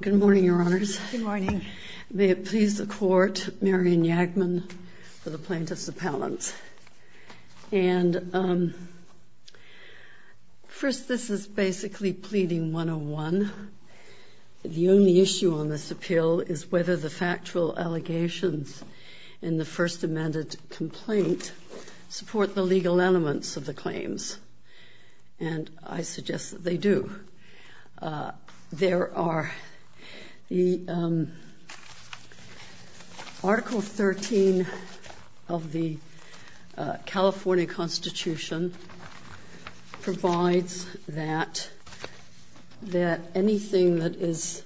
Good morning, Your Honors. May it please the Court, Marion Yagman for the Plaintiffs Appellant. And first, this is basically pleading 101. The only issue on this appeal is whether the factual allegations in the first amended complaint support the legal elements of the claims. And I suggest that they do. There are the Article 13 of the California Constitution provides that anything that is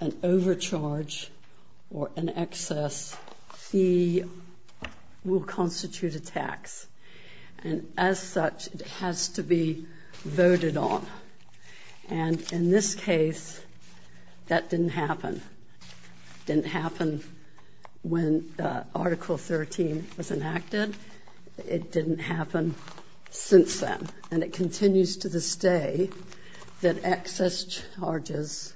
an overcharge or an excess fee will constitute a tax. And as such, it has to be voted on. And in this case, that didn't happen. It didn't happen when Article 13 was enacted. It didn't happen since then. And it continues to this day that excess charges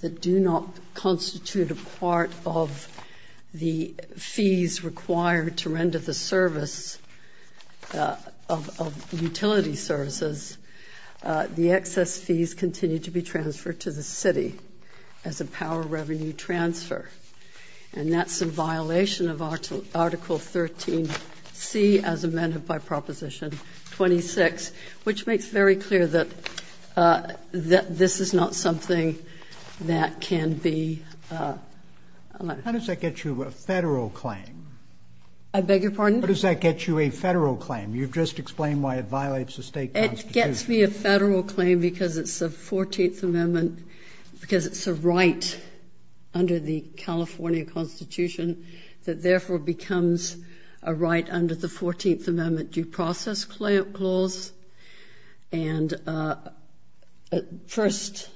that do not constitute a part of the fees required to render the service of utility services, the excess fees continue to be transferred to the city as a power revenue transfer. And that's in violation of Article 13C as amended by Proposition 26, which makes very clear that this is not something that can be... How does that get you a federal claim? I beg your pardon? How does that get you a federal claim? You've just explained why it violates the state constitution. It gets me a federal claim because it's a 14th Amendment, because it's a right under the California Constitution that therefore becomes a right under the 14th Amendment due process clause. And first...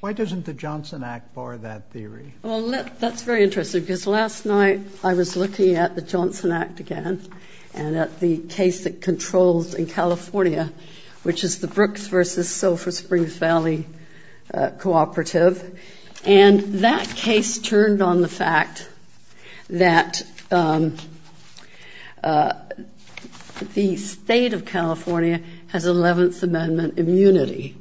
Why doesn't the Johnson Act bar that theory? Well, that's very interesting because last night I was looking at the Johnson Act again. And at the case that controls in California, which is the Brooks versus Sulfur Springs Valley Cooperative. And that case turned on the fact that the state of California has 11th Amendment immunity.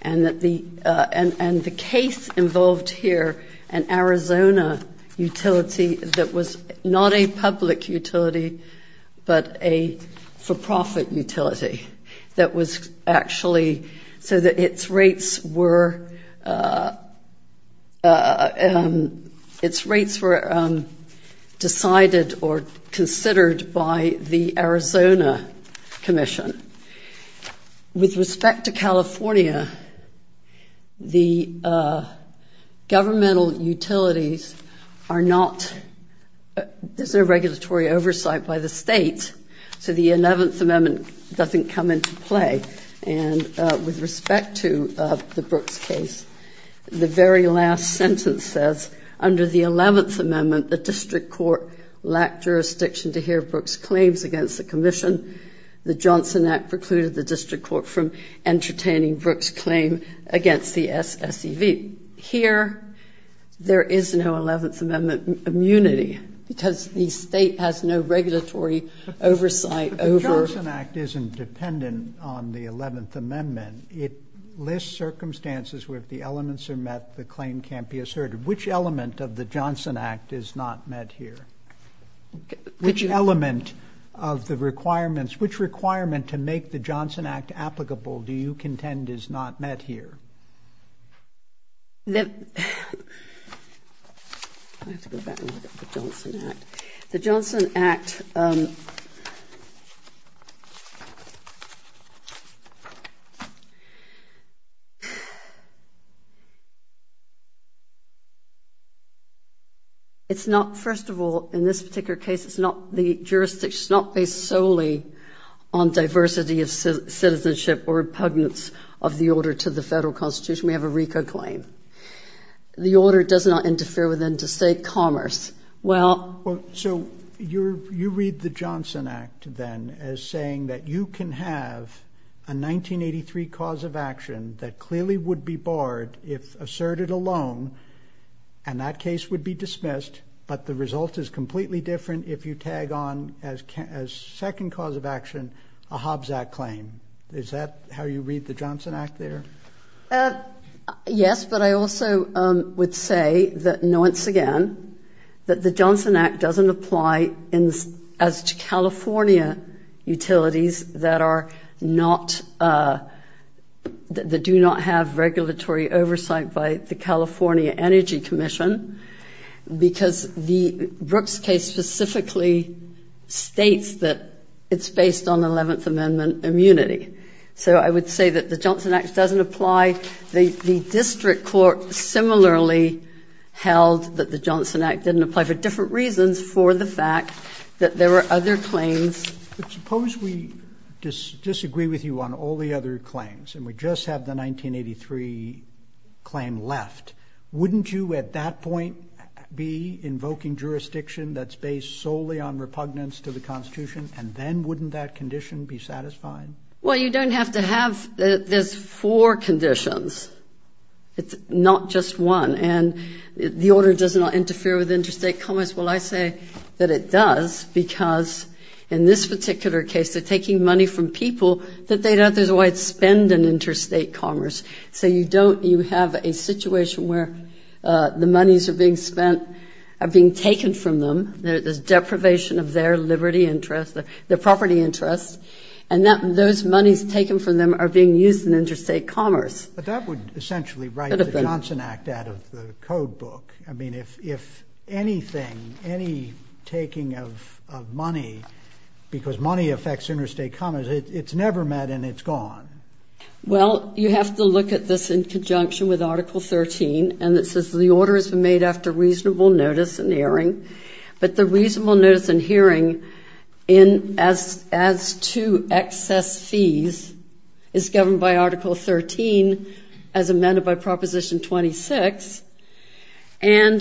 And the case involved here an Arizona utility that was not a public utility, but a for-profit utility that was actually... So that its rates were decided or considered by the Arizona Commission. With respect to California, the governmental utilities are not... There's no regulatory oversight by the state, so the 11th Amendment doesn't come into play. And with respect to the Brooks case, the very last sentence says, under the 11th Amendment, the district court lacked jurisdiction to hear Brooks' claims against the commission. The Johnson Act precluded the district court from entertaining Brooks' claim against the SSEV. Here, there is no 11th Amendment immunity because the state has no regulatory oversight over... But the Johnson Act isn't dependent on the 11th Amendment. It lists circumstances where if the elements are met, the claim can't be asserted. Which element of the Johnson Act is not met here? Which element of the requirements... Which requirement to make the Johnson Act applicable do you contend is not met here? I have to go back and look at the Johnson Act. The Johnson Act... It's not... First of all, in this particular case, it's not the jurisdiction... It's not based solely on diversity of citizenship or repugnance of the order to the federal constitution. We have a RICO claim. The order does not interfere with interstate commerce. Well... So you read the Johnson Act then as saying that you can have a 1983 cause of action that clearly would be barred if asserted alone, and that case would be dismissed, but the result is completely different if you tag on as second cause of action a Hobbs Act claim. Is that how you read the Johnson Act there? Yes, but I also would say that, once again, that the Johnson Act doesn't apply as to California utilities that are not... That do not have regulatory oversight by the California Energy Commission, because the Brooks case specifically states that it's based on 11th The district court similarly held that the Johnson Act didn't apply for different reasons for the fact that there were other claims... But suppose we disagree with you on all the other claims, and we just have the 1983 claim left. Wouldn't you, at that point, be invoking jurisdiction that's based solely on repugnance to the constitution, and then wouldn't that condition be satisfying? Well, you don't have to have... There's four conditions. It's not just one, and the order does not interfere with interstate commerce. Well, I say that it does because, in this particular case, they're taking money from people that they don't otherwise spend in interstate commerce. So you don't... You have a situation where the monies are being spent, are being taken from them. There's deprivation of their liberty interest, their monies taken from them are being used in interstate commerce. But that would essentially write the Johnson Act out of the code book. I mean, if anything, any taking of money, because money affects interstate commerce, it's never met and it's gone. Well, you have to look at this in conjunction with Article 13, and it says the order has been made after reasonable notice and hearing, but the reasonable notice and hearing as to excess fees is governed by Article 13 as amended by Proposition 26. And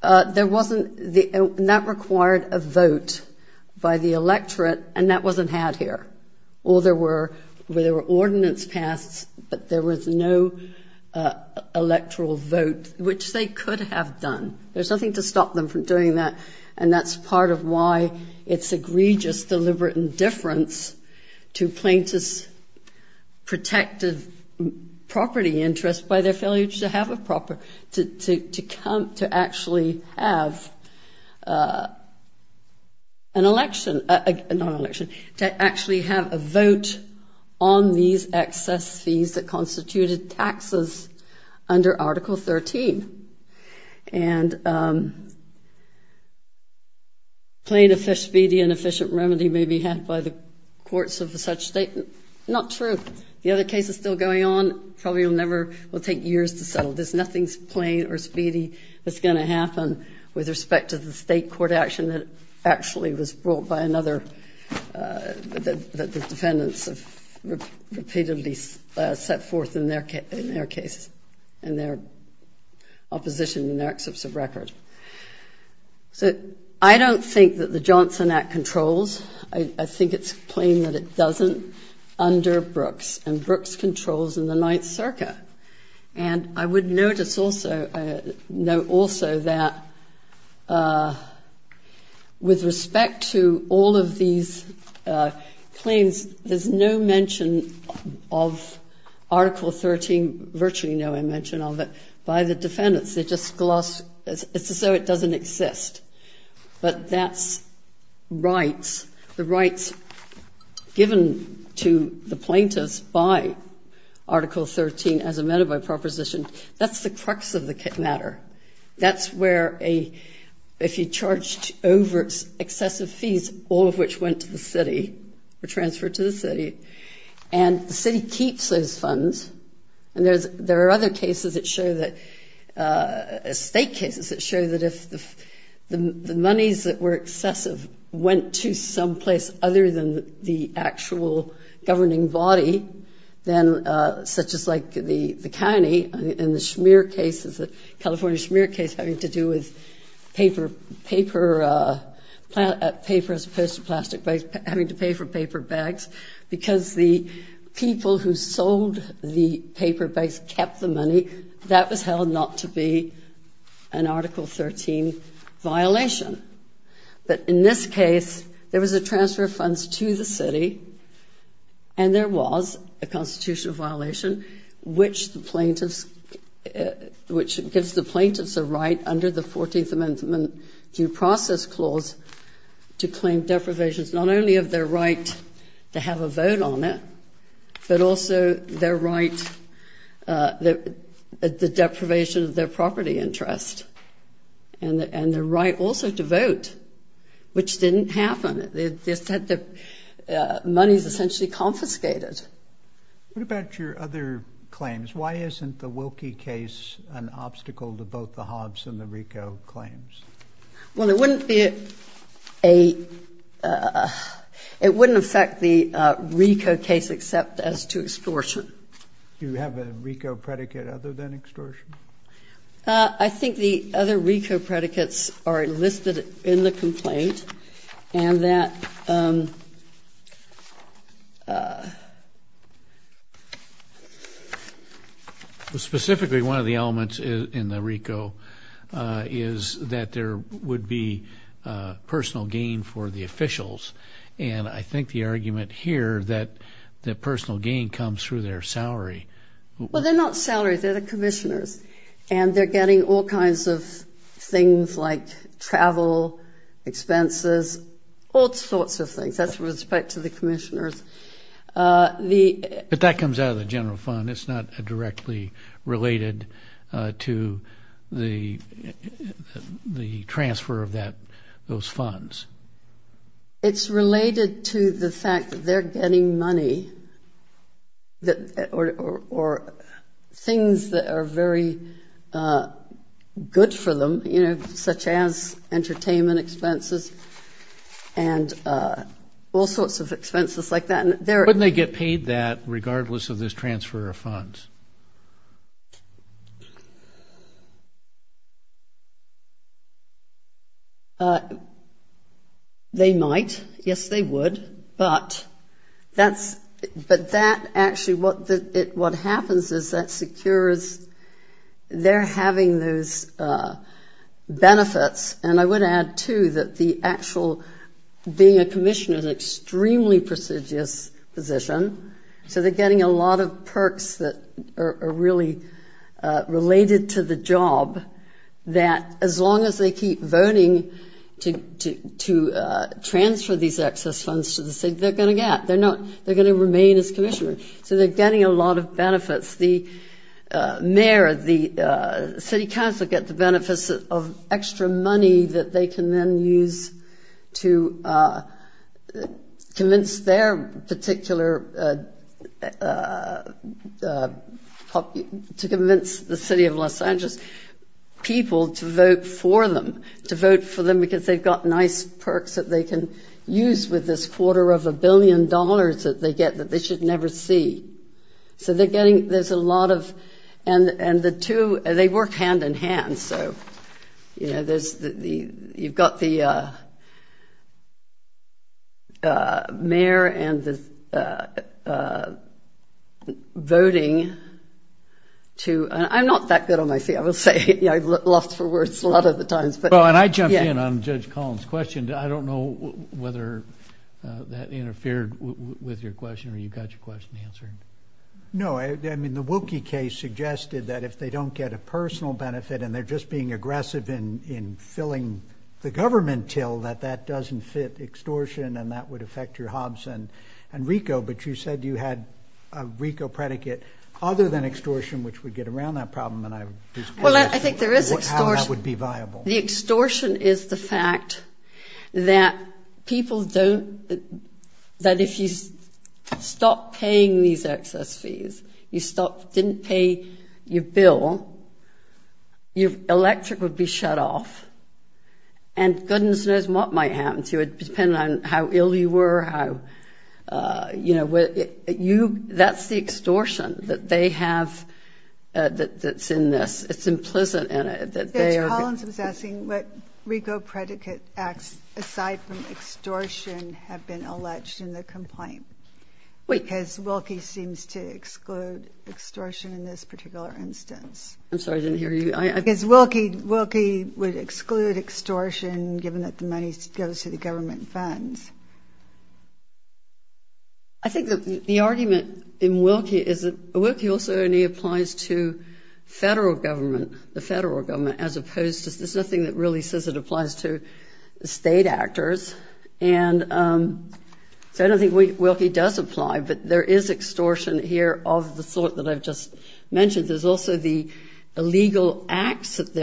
that required a vote by the electorate, and that wasn't had here. Well, there were ordinance passed, but there was no electoral vote, which they could have done. There's nothing to stop them from doing that. And that's part of why it's egregious, deliberate indifference to plaintiffs' protected property interest by their failure to have a proper... To actually have an election... Not an election, to actually have a vote on these excess fees that constituted taxes under Article 13. And plain, speedy, and efficient remedy may be had by the courts of such statement. Not true. The other case is still going on, probably will never, will take years to settle. There's nothing plain or speedy that's going to happen with respect to the state court action that actually was brought by another... That the defendants have repeatedly set forth in their cases and their opposition in their excerpts of record. So I don't think that the Johnson Act controls. I think it's plain that it doesn't under Brooks, and Brooks controls in the Ninth Circuit. And I would notice also that with respect to all of these claims, there's no mention of Article 13, virtually no mention of it, by the defendants. They just gloss... It's as though it doesn't exist. But that's rights. The rights given to the plaintiffs by Article 13 as amended by proposition, that's the crux of the matter. That's where a... If you charged overt excessive fees, all of which went to the city or transferred to the city, and the city keeps those funds. And there are other cases that show that... State cases that show that if the monies that were excessive went to some place other than the actual governing body, then such as like the county and the Schmier case, the California Schmier case having to do with paper as opposed to plastic bags, having to pay for paper bags, because the people who sold the paper bags kept the money, that was held not to be an Article 13 violation. But in this case, there was a transfer of funds to the city, and there was a constitutional violation, which the plaintiffs... Which gives the plaintiffs a right under the 14th Amendment Due Process Clause to claim deprivations, not only of their right to have a vote on it, but also their right... The deprivation of their property interest, and their right also to vote, which didn't happen. They said the money's essentially confiscated. What about your other claims? Why isn't the Wilkie case an obstacle to both the Hobbs and the RICO claims? Well, it wouldn't be a... It wouldn't affect the RICO case except as to extortion. You have a RICO predicate other than extortion? I think the other RICO predicates are listed in the complaint, and that is... Specifically, one of the elements in the RICO is that there would be personal gain for the officials, and I think the argument here that the personal gain comes through their salary. Well, they're not salaried, they're the commissioners, and they're getting all kinds of things like travel, expenses, all sorts of things. That's with respect to the commissioners. But that comes out of the general fund. It's not directly related to the transfer of those funds. It's related to the fact that they're getting money, or things that are very good for them, such as entertainment expenses and all sorts of expenses like that. Wouldn't they get paid that regardless of this transfer of funds? They might. Yes, they would. But that actually... What happens is that secures... They're having those benefits, and I would add, too, that the actual... Being a commissioner is an extremely prestigious position, so they're getting a lot of perks that are really related to the job that as long as they keep voting to transfer these excess funds to the city, they're going to get. They're going to remain as commissioners, so they're getting a lot of benefits. The mayor, the city council get the benefits of extra money that they can then use to convince their particular... To convince the city of Los Angeles people to vote for them, to vote for them because they've got nice perks that they can use with this quarter of a billion dollars that they get that they should never see. So they're getting... There's a lot of... And the two... They work hand in hand, so you've got the mayor and the voting to... I'm not that good on my feet, I will say. I've lost for words a lot of the times, but... Well, and I jumped in on Judge Collins' question. I don't know whether that interfered with your question or you got your question answered. No, I mean, the Wilkie case suggested that if they don't get a personal benefit and they're just being aggressive in filling the government till, that that doesn't fit extortion and that would affect your Hobbs and Ricoh, but you said you had a Ricoh predicate other than extortion, which would get around that problem, and I'm just wondering how that would be viable. The extortion is the fact that people don't... That if you stop paying these excess fees, you didn't pay your bill, your electric would be shut off, and goodness knows what might happen to you. It would depend on how ill you were, how... That's the extortion that they have that's in this. It's implicit in it that they are... Judge Collins was asking what Ricoh predicate acts aside from extortion have been alleged in the complaint, because Wilkie seems to exclude extortion in this particular instance. I'm sorry, I didn't hear you. Because Wilkie would exclude extortion given that the money goes to the government funds. I think that the argument in Wilkie is that Wilkie also only applies to federal government, the federal government, as opposed to... There's nothing that really says it applies to state actors, and so I don't think Wilkie does apply, but there is extortion here of the sort that I've just mentioned. There's also the illegal acts that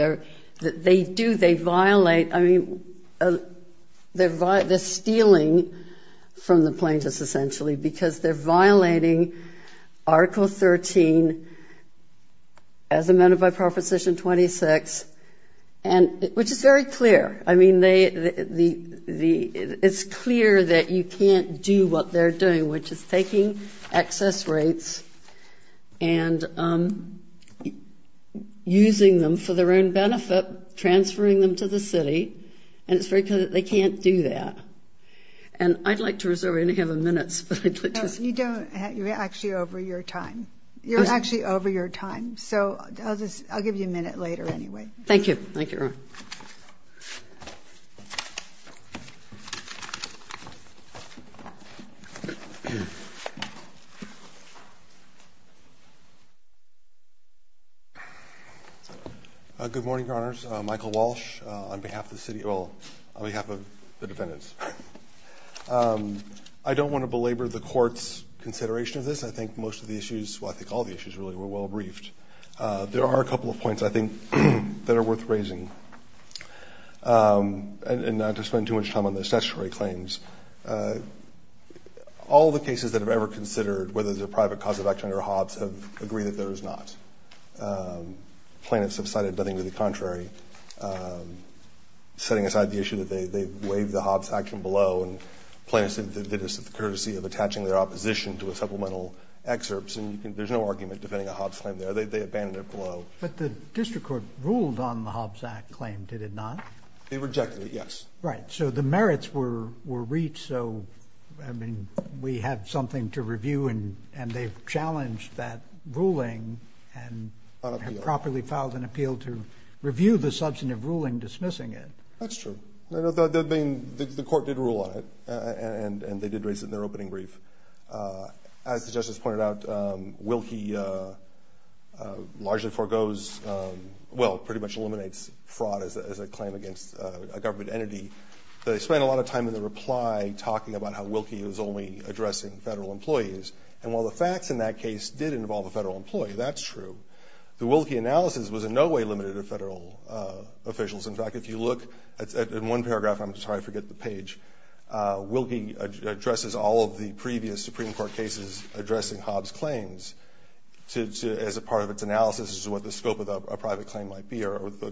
they do. They violate... They're stealing from the plaintiffs, essentially, because they're violating Article 13 as amended by Proposition 26, which is very clear. I mean, it's clear that you can't do what they're doing, which is taking excess rates and using them for their own benefit, transferring them to the city, and it's very clear that they can't do that. And I'd like to reserve any other minutes, but I'd like to... You don't... You're actually over your time. You're actually over your time, so I'll give you a minute later anyway. Thank you. Thank you, Your Honor. Good morning, Your Honors. Michael Walsh on behalf of the city... Well, on behalf of the defendants. I don't want to belabor the Court's consideration of this. I think most of the issues... Well, I think all the issues, really, were well briefed. There are a couple of points, I think, that are worth raising, and not to spend too much time on the statutory claims. All the cases that have ever considered whether there's a private cause of action under Hobbs have agreed that there is not. Plaintiffs have cited nothing to the contrary, setting aside the issue that they waived the Hobbs Act from below, and plaintiffs did this courtesy of attaching their opposition to a supplemental excerpts. And you can... There's no argument defending a Hobbs claim there. They abandoned it below. But the district court ruled on the Hobbs Act claim, did it not? They rejected it, yes. Right. So the merits were reached. So, I mean, we had something to review, and they've challenged that ruling and properly filed an appeal to review the substantive ruling dismissing it. That's true. The Court did rule on it, and they did raise it in their opening brief. As the Justice pointed out, Wilkie largely foregoes... Well, pretty much eliminates fraud as a claim against a government entity. They spent a lot of time in the reply talking about how Wilkie was only addressing federal employees. And while the facts in that case did involve a federal employee, that's true, the Wilkie analysis was in no way limited to federal officials. In fact, if you look at one paragraph, I'm sorry, I forget the page, Wilkie addresses all of the previous Supreme Court cases addressing Hobbs claims as a part of its analysis as to what the scope of a private claim might be or of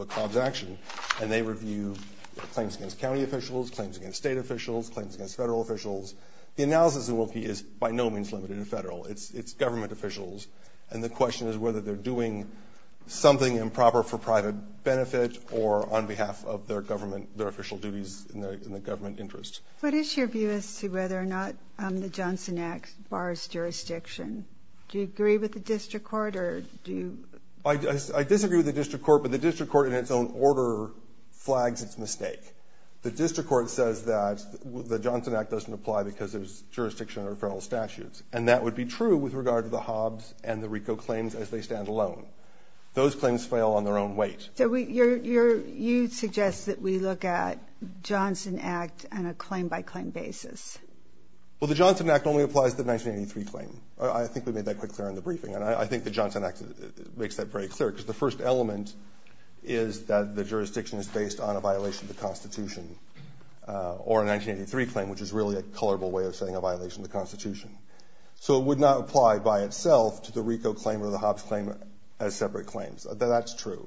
a Hobbs action. And they claim against state officials, claims against federal officials. The analysis of Wilkie is by no means limited to federal. It's government officials. And the question is whether they're doing something improper for private benefit or on behalf of their government, their official duties in the government interest. What is your view as to whether or not the Johnson Act bars jurisdiction? Do you agree with the district court or do you... I disagree with the district court in its own order flags its mistake. The district court says that the Johnson Act doesn't apply because there's jurisdiction or federal statutes. And that would be true with regard to the Hobbs and the Rico claims as they stand alone. Those claims fail on their own weight. So you suggest that we look at Johnson Act on a claim by claim basis. Well, the Johnson Act only applies to the 1983 claim. I think we made that quite clear in the is that the jurisdiction is based on a violation of the constitution or a 1983 claim, which is really a colorable way of saying a violation of the constitution. So it would not apply by itself to the Rico claim or the Hobbs claim as separate claims. That's true.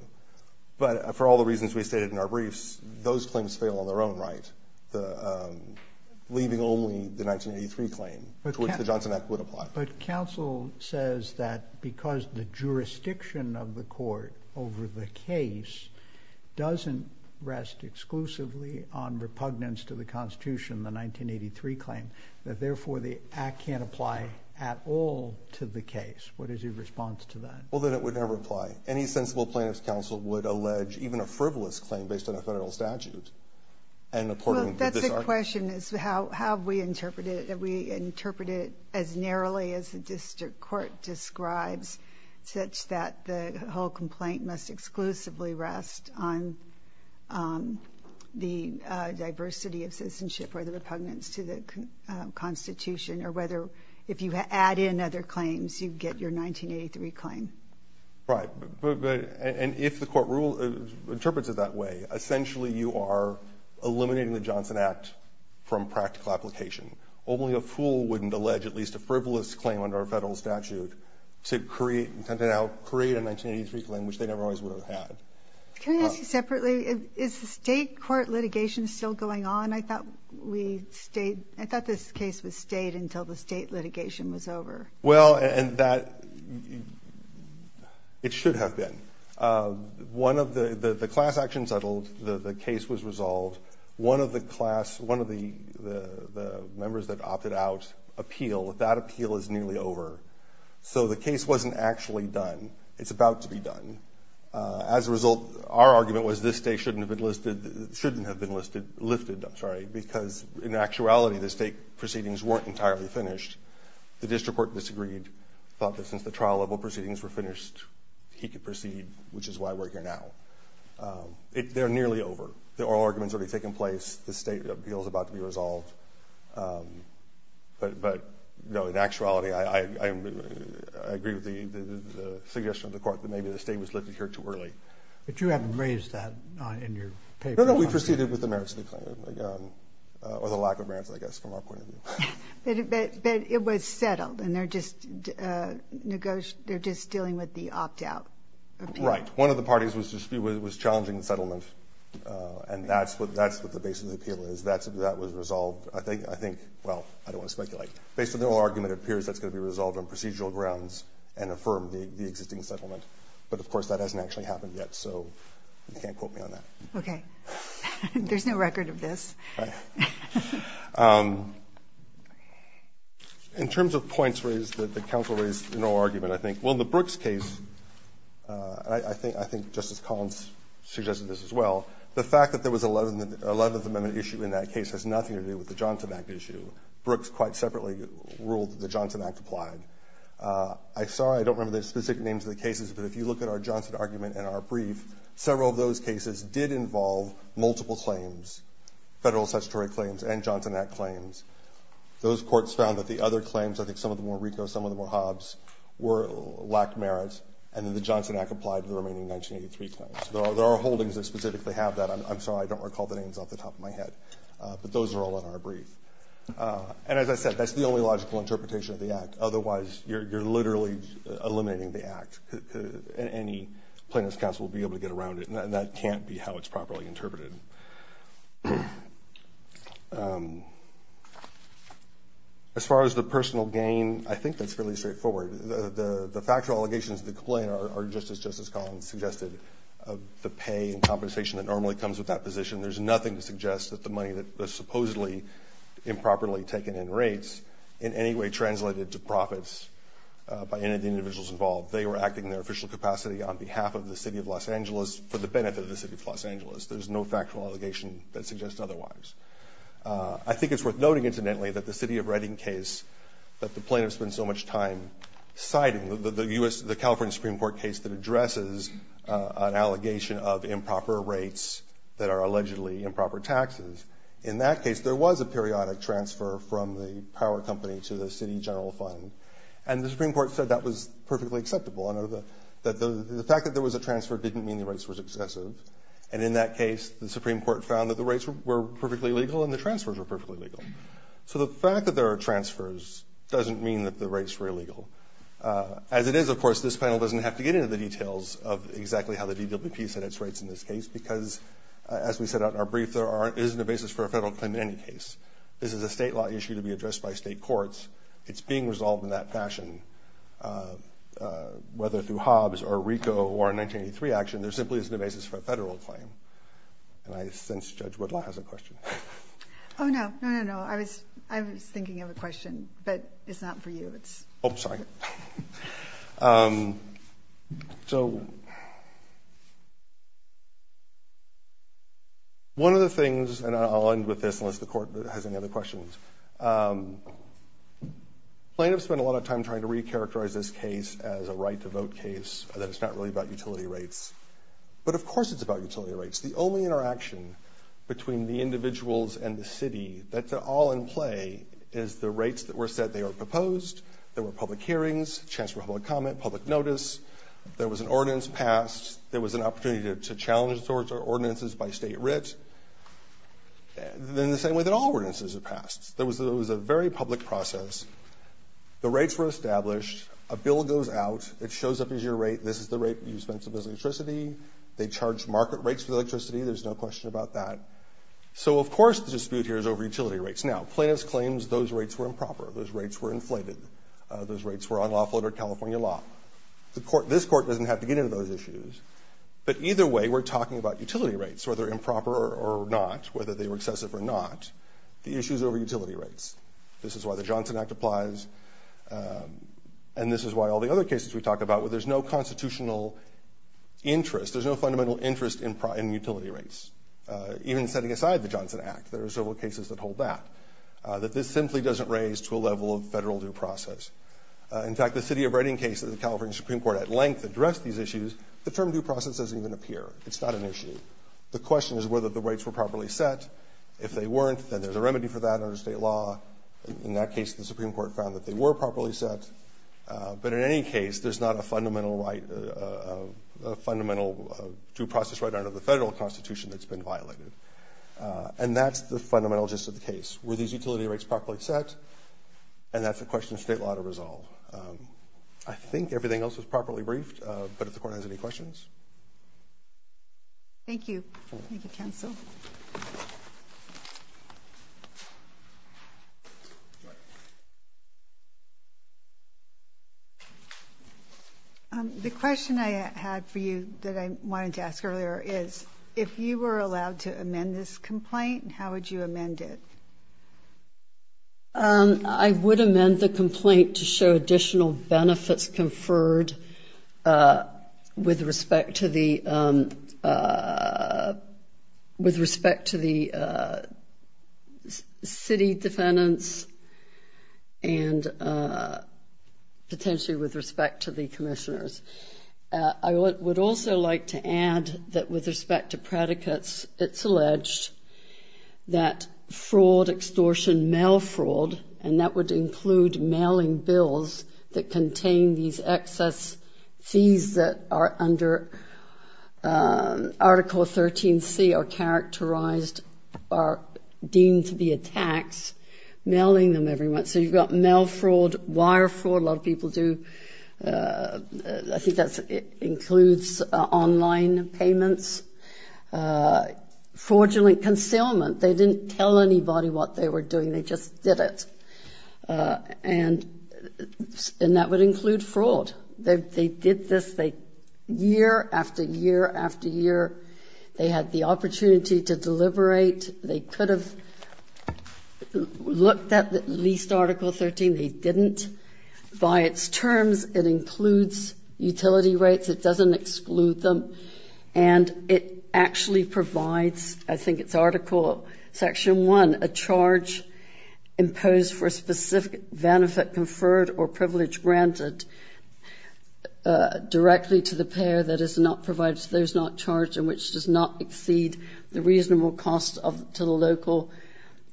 But for all the reasons we stated in our briefs, those claims fail on their own right, leaving only the 1983 claim to which the Johnson Act would apply. But counsel says that because the jurisdiction of the court over the case doesn't rest exclusively on repugnance to the constitution, the 1983 claim, that therefore the act can't apply at all to the case. What is your response to that? Well, that it would never apply. Any sensible plaintiff's counsel would allege even a frivolous claim based on a federal statute. Well, that's the question, is how have we interpreted it? Have we interpreted it as narrowly as the district court describes, such that the whole complaint must exclusively rest on the diversity of citizenship or the repugnance to the constitution, or whether if you add in other claims, you get your 1983 claim? Right. And if the court rule interprets it that way, essentially you are eliminating the Johnson Act from practical application. Only a fool wouldn't allege at least a frivolous claim under a federal statute to create a 1983 claim, which they never always would have had. Can I ask you separately, is the state court litigation still going on? I thought this case was stayed until the state litigation was over. Well, and that, it should have been. One of the, the class action settled, the case was resolved. One of the class, one of the members that opted out appeal, that appeal is nearly over. So the case wasn't actually done. It's about to be done. As a result, our argument was this state shouldn't have been listed, shouldn't have been listed, lifted, I'm sorry, because in actuality, the state proceedings weren't entirely finished. The district court disagreed, thought that since the trial level proceedings were finished, he could proceed, which is why we're here now. They're nearly over. The oral argument's already taken place. The state appeal is about to be resolved. But no, in actuality, I agree with the suggestion of the court that maybe the state was lifted here too early. But you haven't raised that in your paper. No, no, we proceeded with the merits of the claim, or the lack of merits, I guess, from our point of view. But it was settled, and they're just negotiating, they're just dealing with the opt-out. Right. One of the parties was challenging the settlement. And that's what the basis of the appeal is. That was resolved. I think, well, I don't want to speculate. Based on the oral argument, it appears that's going to be resolved on procedural grounds and affirm the existing settlement. But of course, that hasn't actually happened yet. So you can't quote me on that. Okay. There's no record of this. In terms of points raised that the counsel raised in the oral argument, I think, well, in the Brooks case, I think Justice Collins suggested this as well, the fact that there was an Eleventh Amendment issue in that case has nothing to do with the Johnson Act issue. Brooks quite separately ruled that the Johnson Act applied. I'm sorry, I don't remember the specific names of the cases, but if you look at our multiple claims, federal statutory claims and Johnson Act claims, those courts found that the other claims, I think some of them were RICO, some of them were Hobbs, lacked merit, and then the Johnson Act applied to the remaining 1983 claims. There are holdings that specifically have that. I'm sorry, I don't recall the names off the top of my head. But those are all in our brief. And as I said, that's the only logical interpretation of the Act. Otherwise, you're literally eliminating the Act. Any plaintiff's counsel will be able to get around it, and that can't be how it's properly interpreted. As far as the personal gain, I think that's fairly straightforward. The factual allegations of the complaint are just as Justice Collins suggested of the pay and compensation that normally comes with that position. There's nothing to suggest that the money that was supposedly improperly taken in rates in any way translated to profits by any of the individuals involved. They were acting in their official capacity on behalf of the City of Los Angeles for the benefit of the City of Los Angeles. There's no factual allegation that suggests otherwise. I think it's worth noting, incidentally, that the City of Reading case that the plaintiffs spent so much time citing, the California Supreme Court case that addresses an allegation of improper rates that are allegedly improper taxes, in that case, there was a periodic transfer from the power company to the City General Fund. And the Supreme Court said that was perfectly acceptable. The fact that there was a transfer didn't mean the rates were excessive. And in that case, the Supreme Court found that the rates were perfectly legal and the transfers were perfectly legal. So the fact that there are transfers doesn't mean that the rates were illegal. As it is, of course, this panel doesn't have to get into the details of exactly how the DWP set its rates in this case because, as we set out in our brief, there isn't a basis for a federal claim in any case. This is a state law issue to be addressed by state courts. It's being resolved in that fashion. Whether through Hobbs or RICO or a 1983 action, there simply isn't a basis for a federal claim. And I sense Judge Woodlaw has a question. Oh, no. No, no, no. I was thinking of a question, but it's not for you. Oh, sorry. So one of the things, and I'll end with this unless the court has any other questions. Plaintiffs spend a lot of time trying to recharacterize this case as a right to vote case, that it's not really about utility rates. But of course it's about utility rates. The only interaction between the individuals and the city that's all in play is the rates that were set. They were proposed. There were public hearings, chance for public comment, public notice. There was an ordinance passed. There was an opportunity to challenge the There was a very public process. The rates were established. A bill goes out. It shows up as your rate. This is the rate you spent on electricity. They charge market rates for the electricity. There's no question about that. So of course the dispute here is over utility rates. Now, plaintiffs claims those rates were improper. Those rates were inflated. Those rates were unlawful under California law. This court doesn't have to get into those issues. But either way, we're talking about utility rates, whether improper or not, whether they were excessive or not. The issue is over utility rates. This is why the Johnson Act applies. And this is why all the other cases we talk about where there's no constitutional interest, there's no fundamental interest in utility rates. Even setting aside the Johnson Act, there are several cases that hold that. That this simply doesn't raise to a level of federal due process. In fact, the city of Reading case of the California Supreme Court at length addressed these issues. The term due process doesn't even appear. It's not an issue. The question is whether the rates were properly set. If they weren't, then there's a remedy for that under state law. In that case, the Supreme Court found that they were properly set. But in any case, there's not a fundamental due process right under the federal constitution that's been violated. And that's the fundamental gist of the case. Were these utility rates properly set? And that's a question of state law to resolve. I think everything else was The question I had for you that I wanted to ask earlier is, if you were allowed to amend this complaint, how would you amend it? I would amend the complaint to show additional benefits conferred with respect to the city defendants and potentially with respect to the commissioners. I would also like to add that with respect to predicates, it's alleged that fraud, extortion, mail fraud, and that would include mailing bills that contain these excess fees that are under Article 13C are characterized, are deemed to be a tax, mailing them every month. So you've got mail fraud, wire fraud. A lot of people do. I think that includes online payments. Fraudulent concealment. They didn't tell anybody what they were doing. They just did it. And that would include fraud. They did this year after year after year. They had the opportunity to deliberate. They could have looked at at least Article 13. They didn't. By its terms, it includes utility rates. It doesn't exclude them. And it actually provides, I think it's Article Section 1, a charge imposed for a specific benefit conferred or privilege granted directly to the payer that is not provided. So there's not charge in which does not exceed the reasonable cost to the local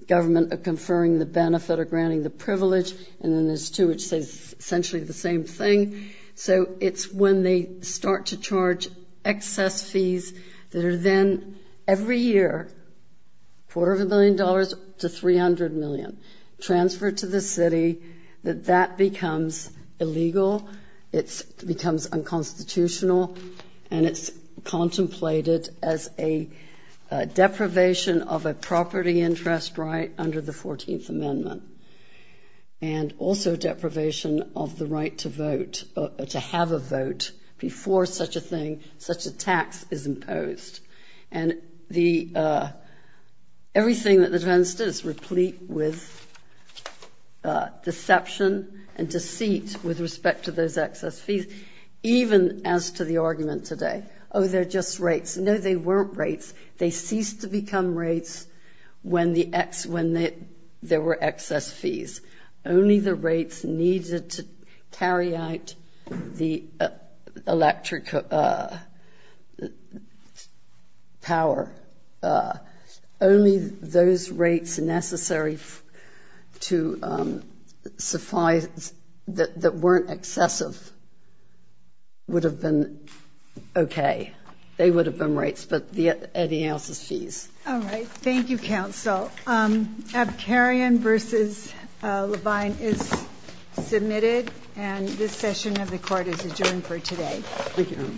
government of conferring the essentially the same thing. So it's when they start to charge excess fees that are then every year, quarter of a million dollars to 300 million transferred to the city, that that becomes illegal. It becomes unconstitutional. And it's contemplated as a deprivation of a property interest right under the 14th Amendment. And also deprivation of the right to vote, to have a vote before such a thing, such a tax is imposed. And everything that the defense did is replete with deception and deceit with respect to those excess fees. Even as to the argument today, oh, they're just rates. No, they weren't rates. They ceased to become rates when there were excess fees. Only the rates needed to carry out the electric power, only those rates necessary to suffice that weren't excessive would have been okay. They would have been rates, but any else's fees. All right. Thank you, counsel. Abkarian versus Levine is submitted. And this session of the court is adjourned for today. Thank you. Thank you.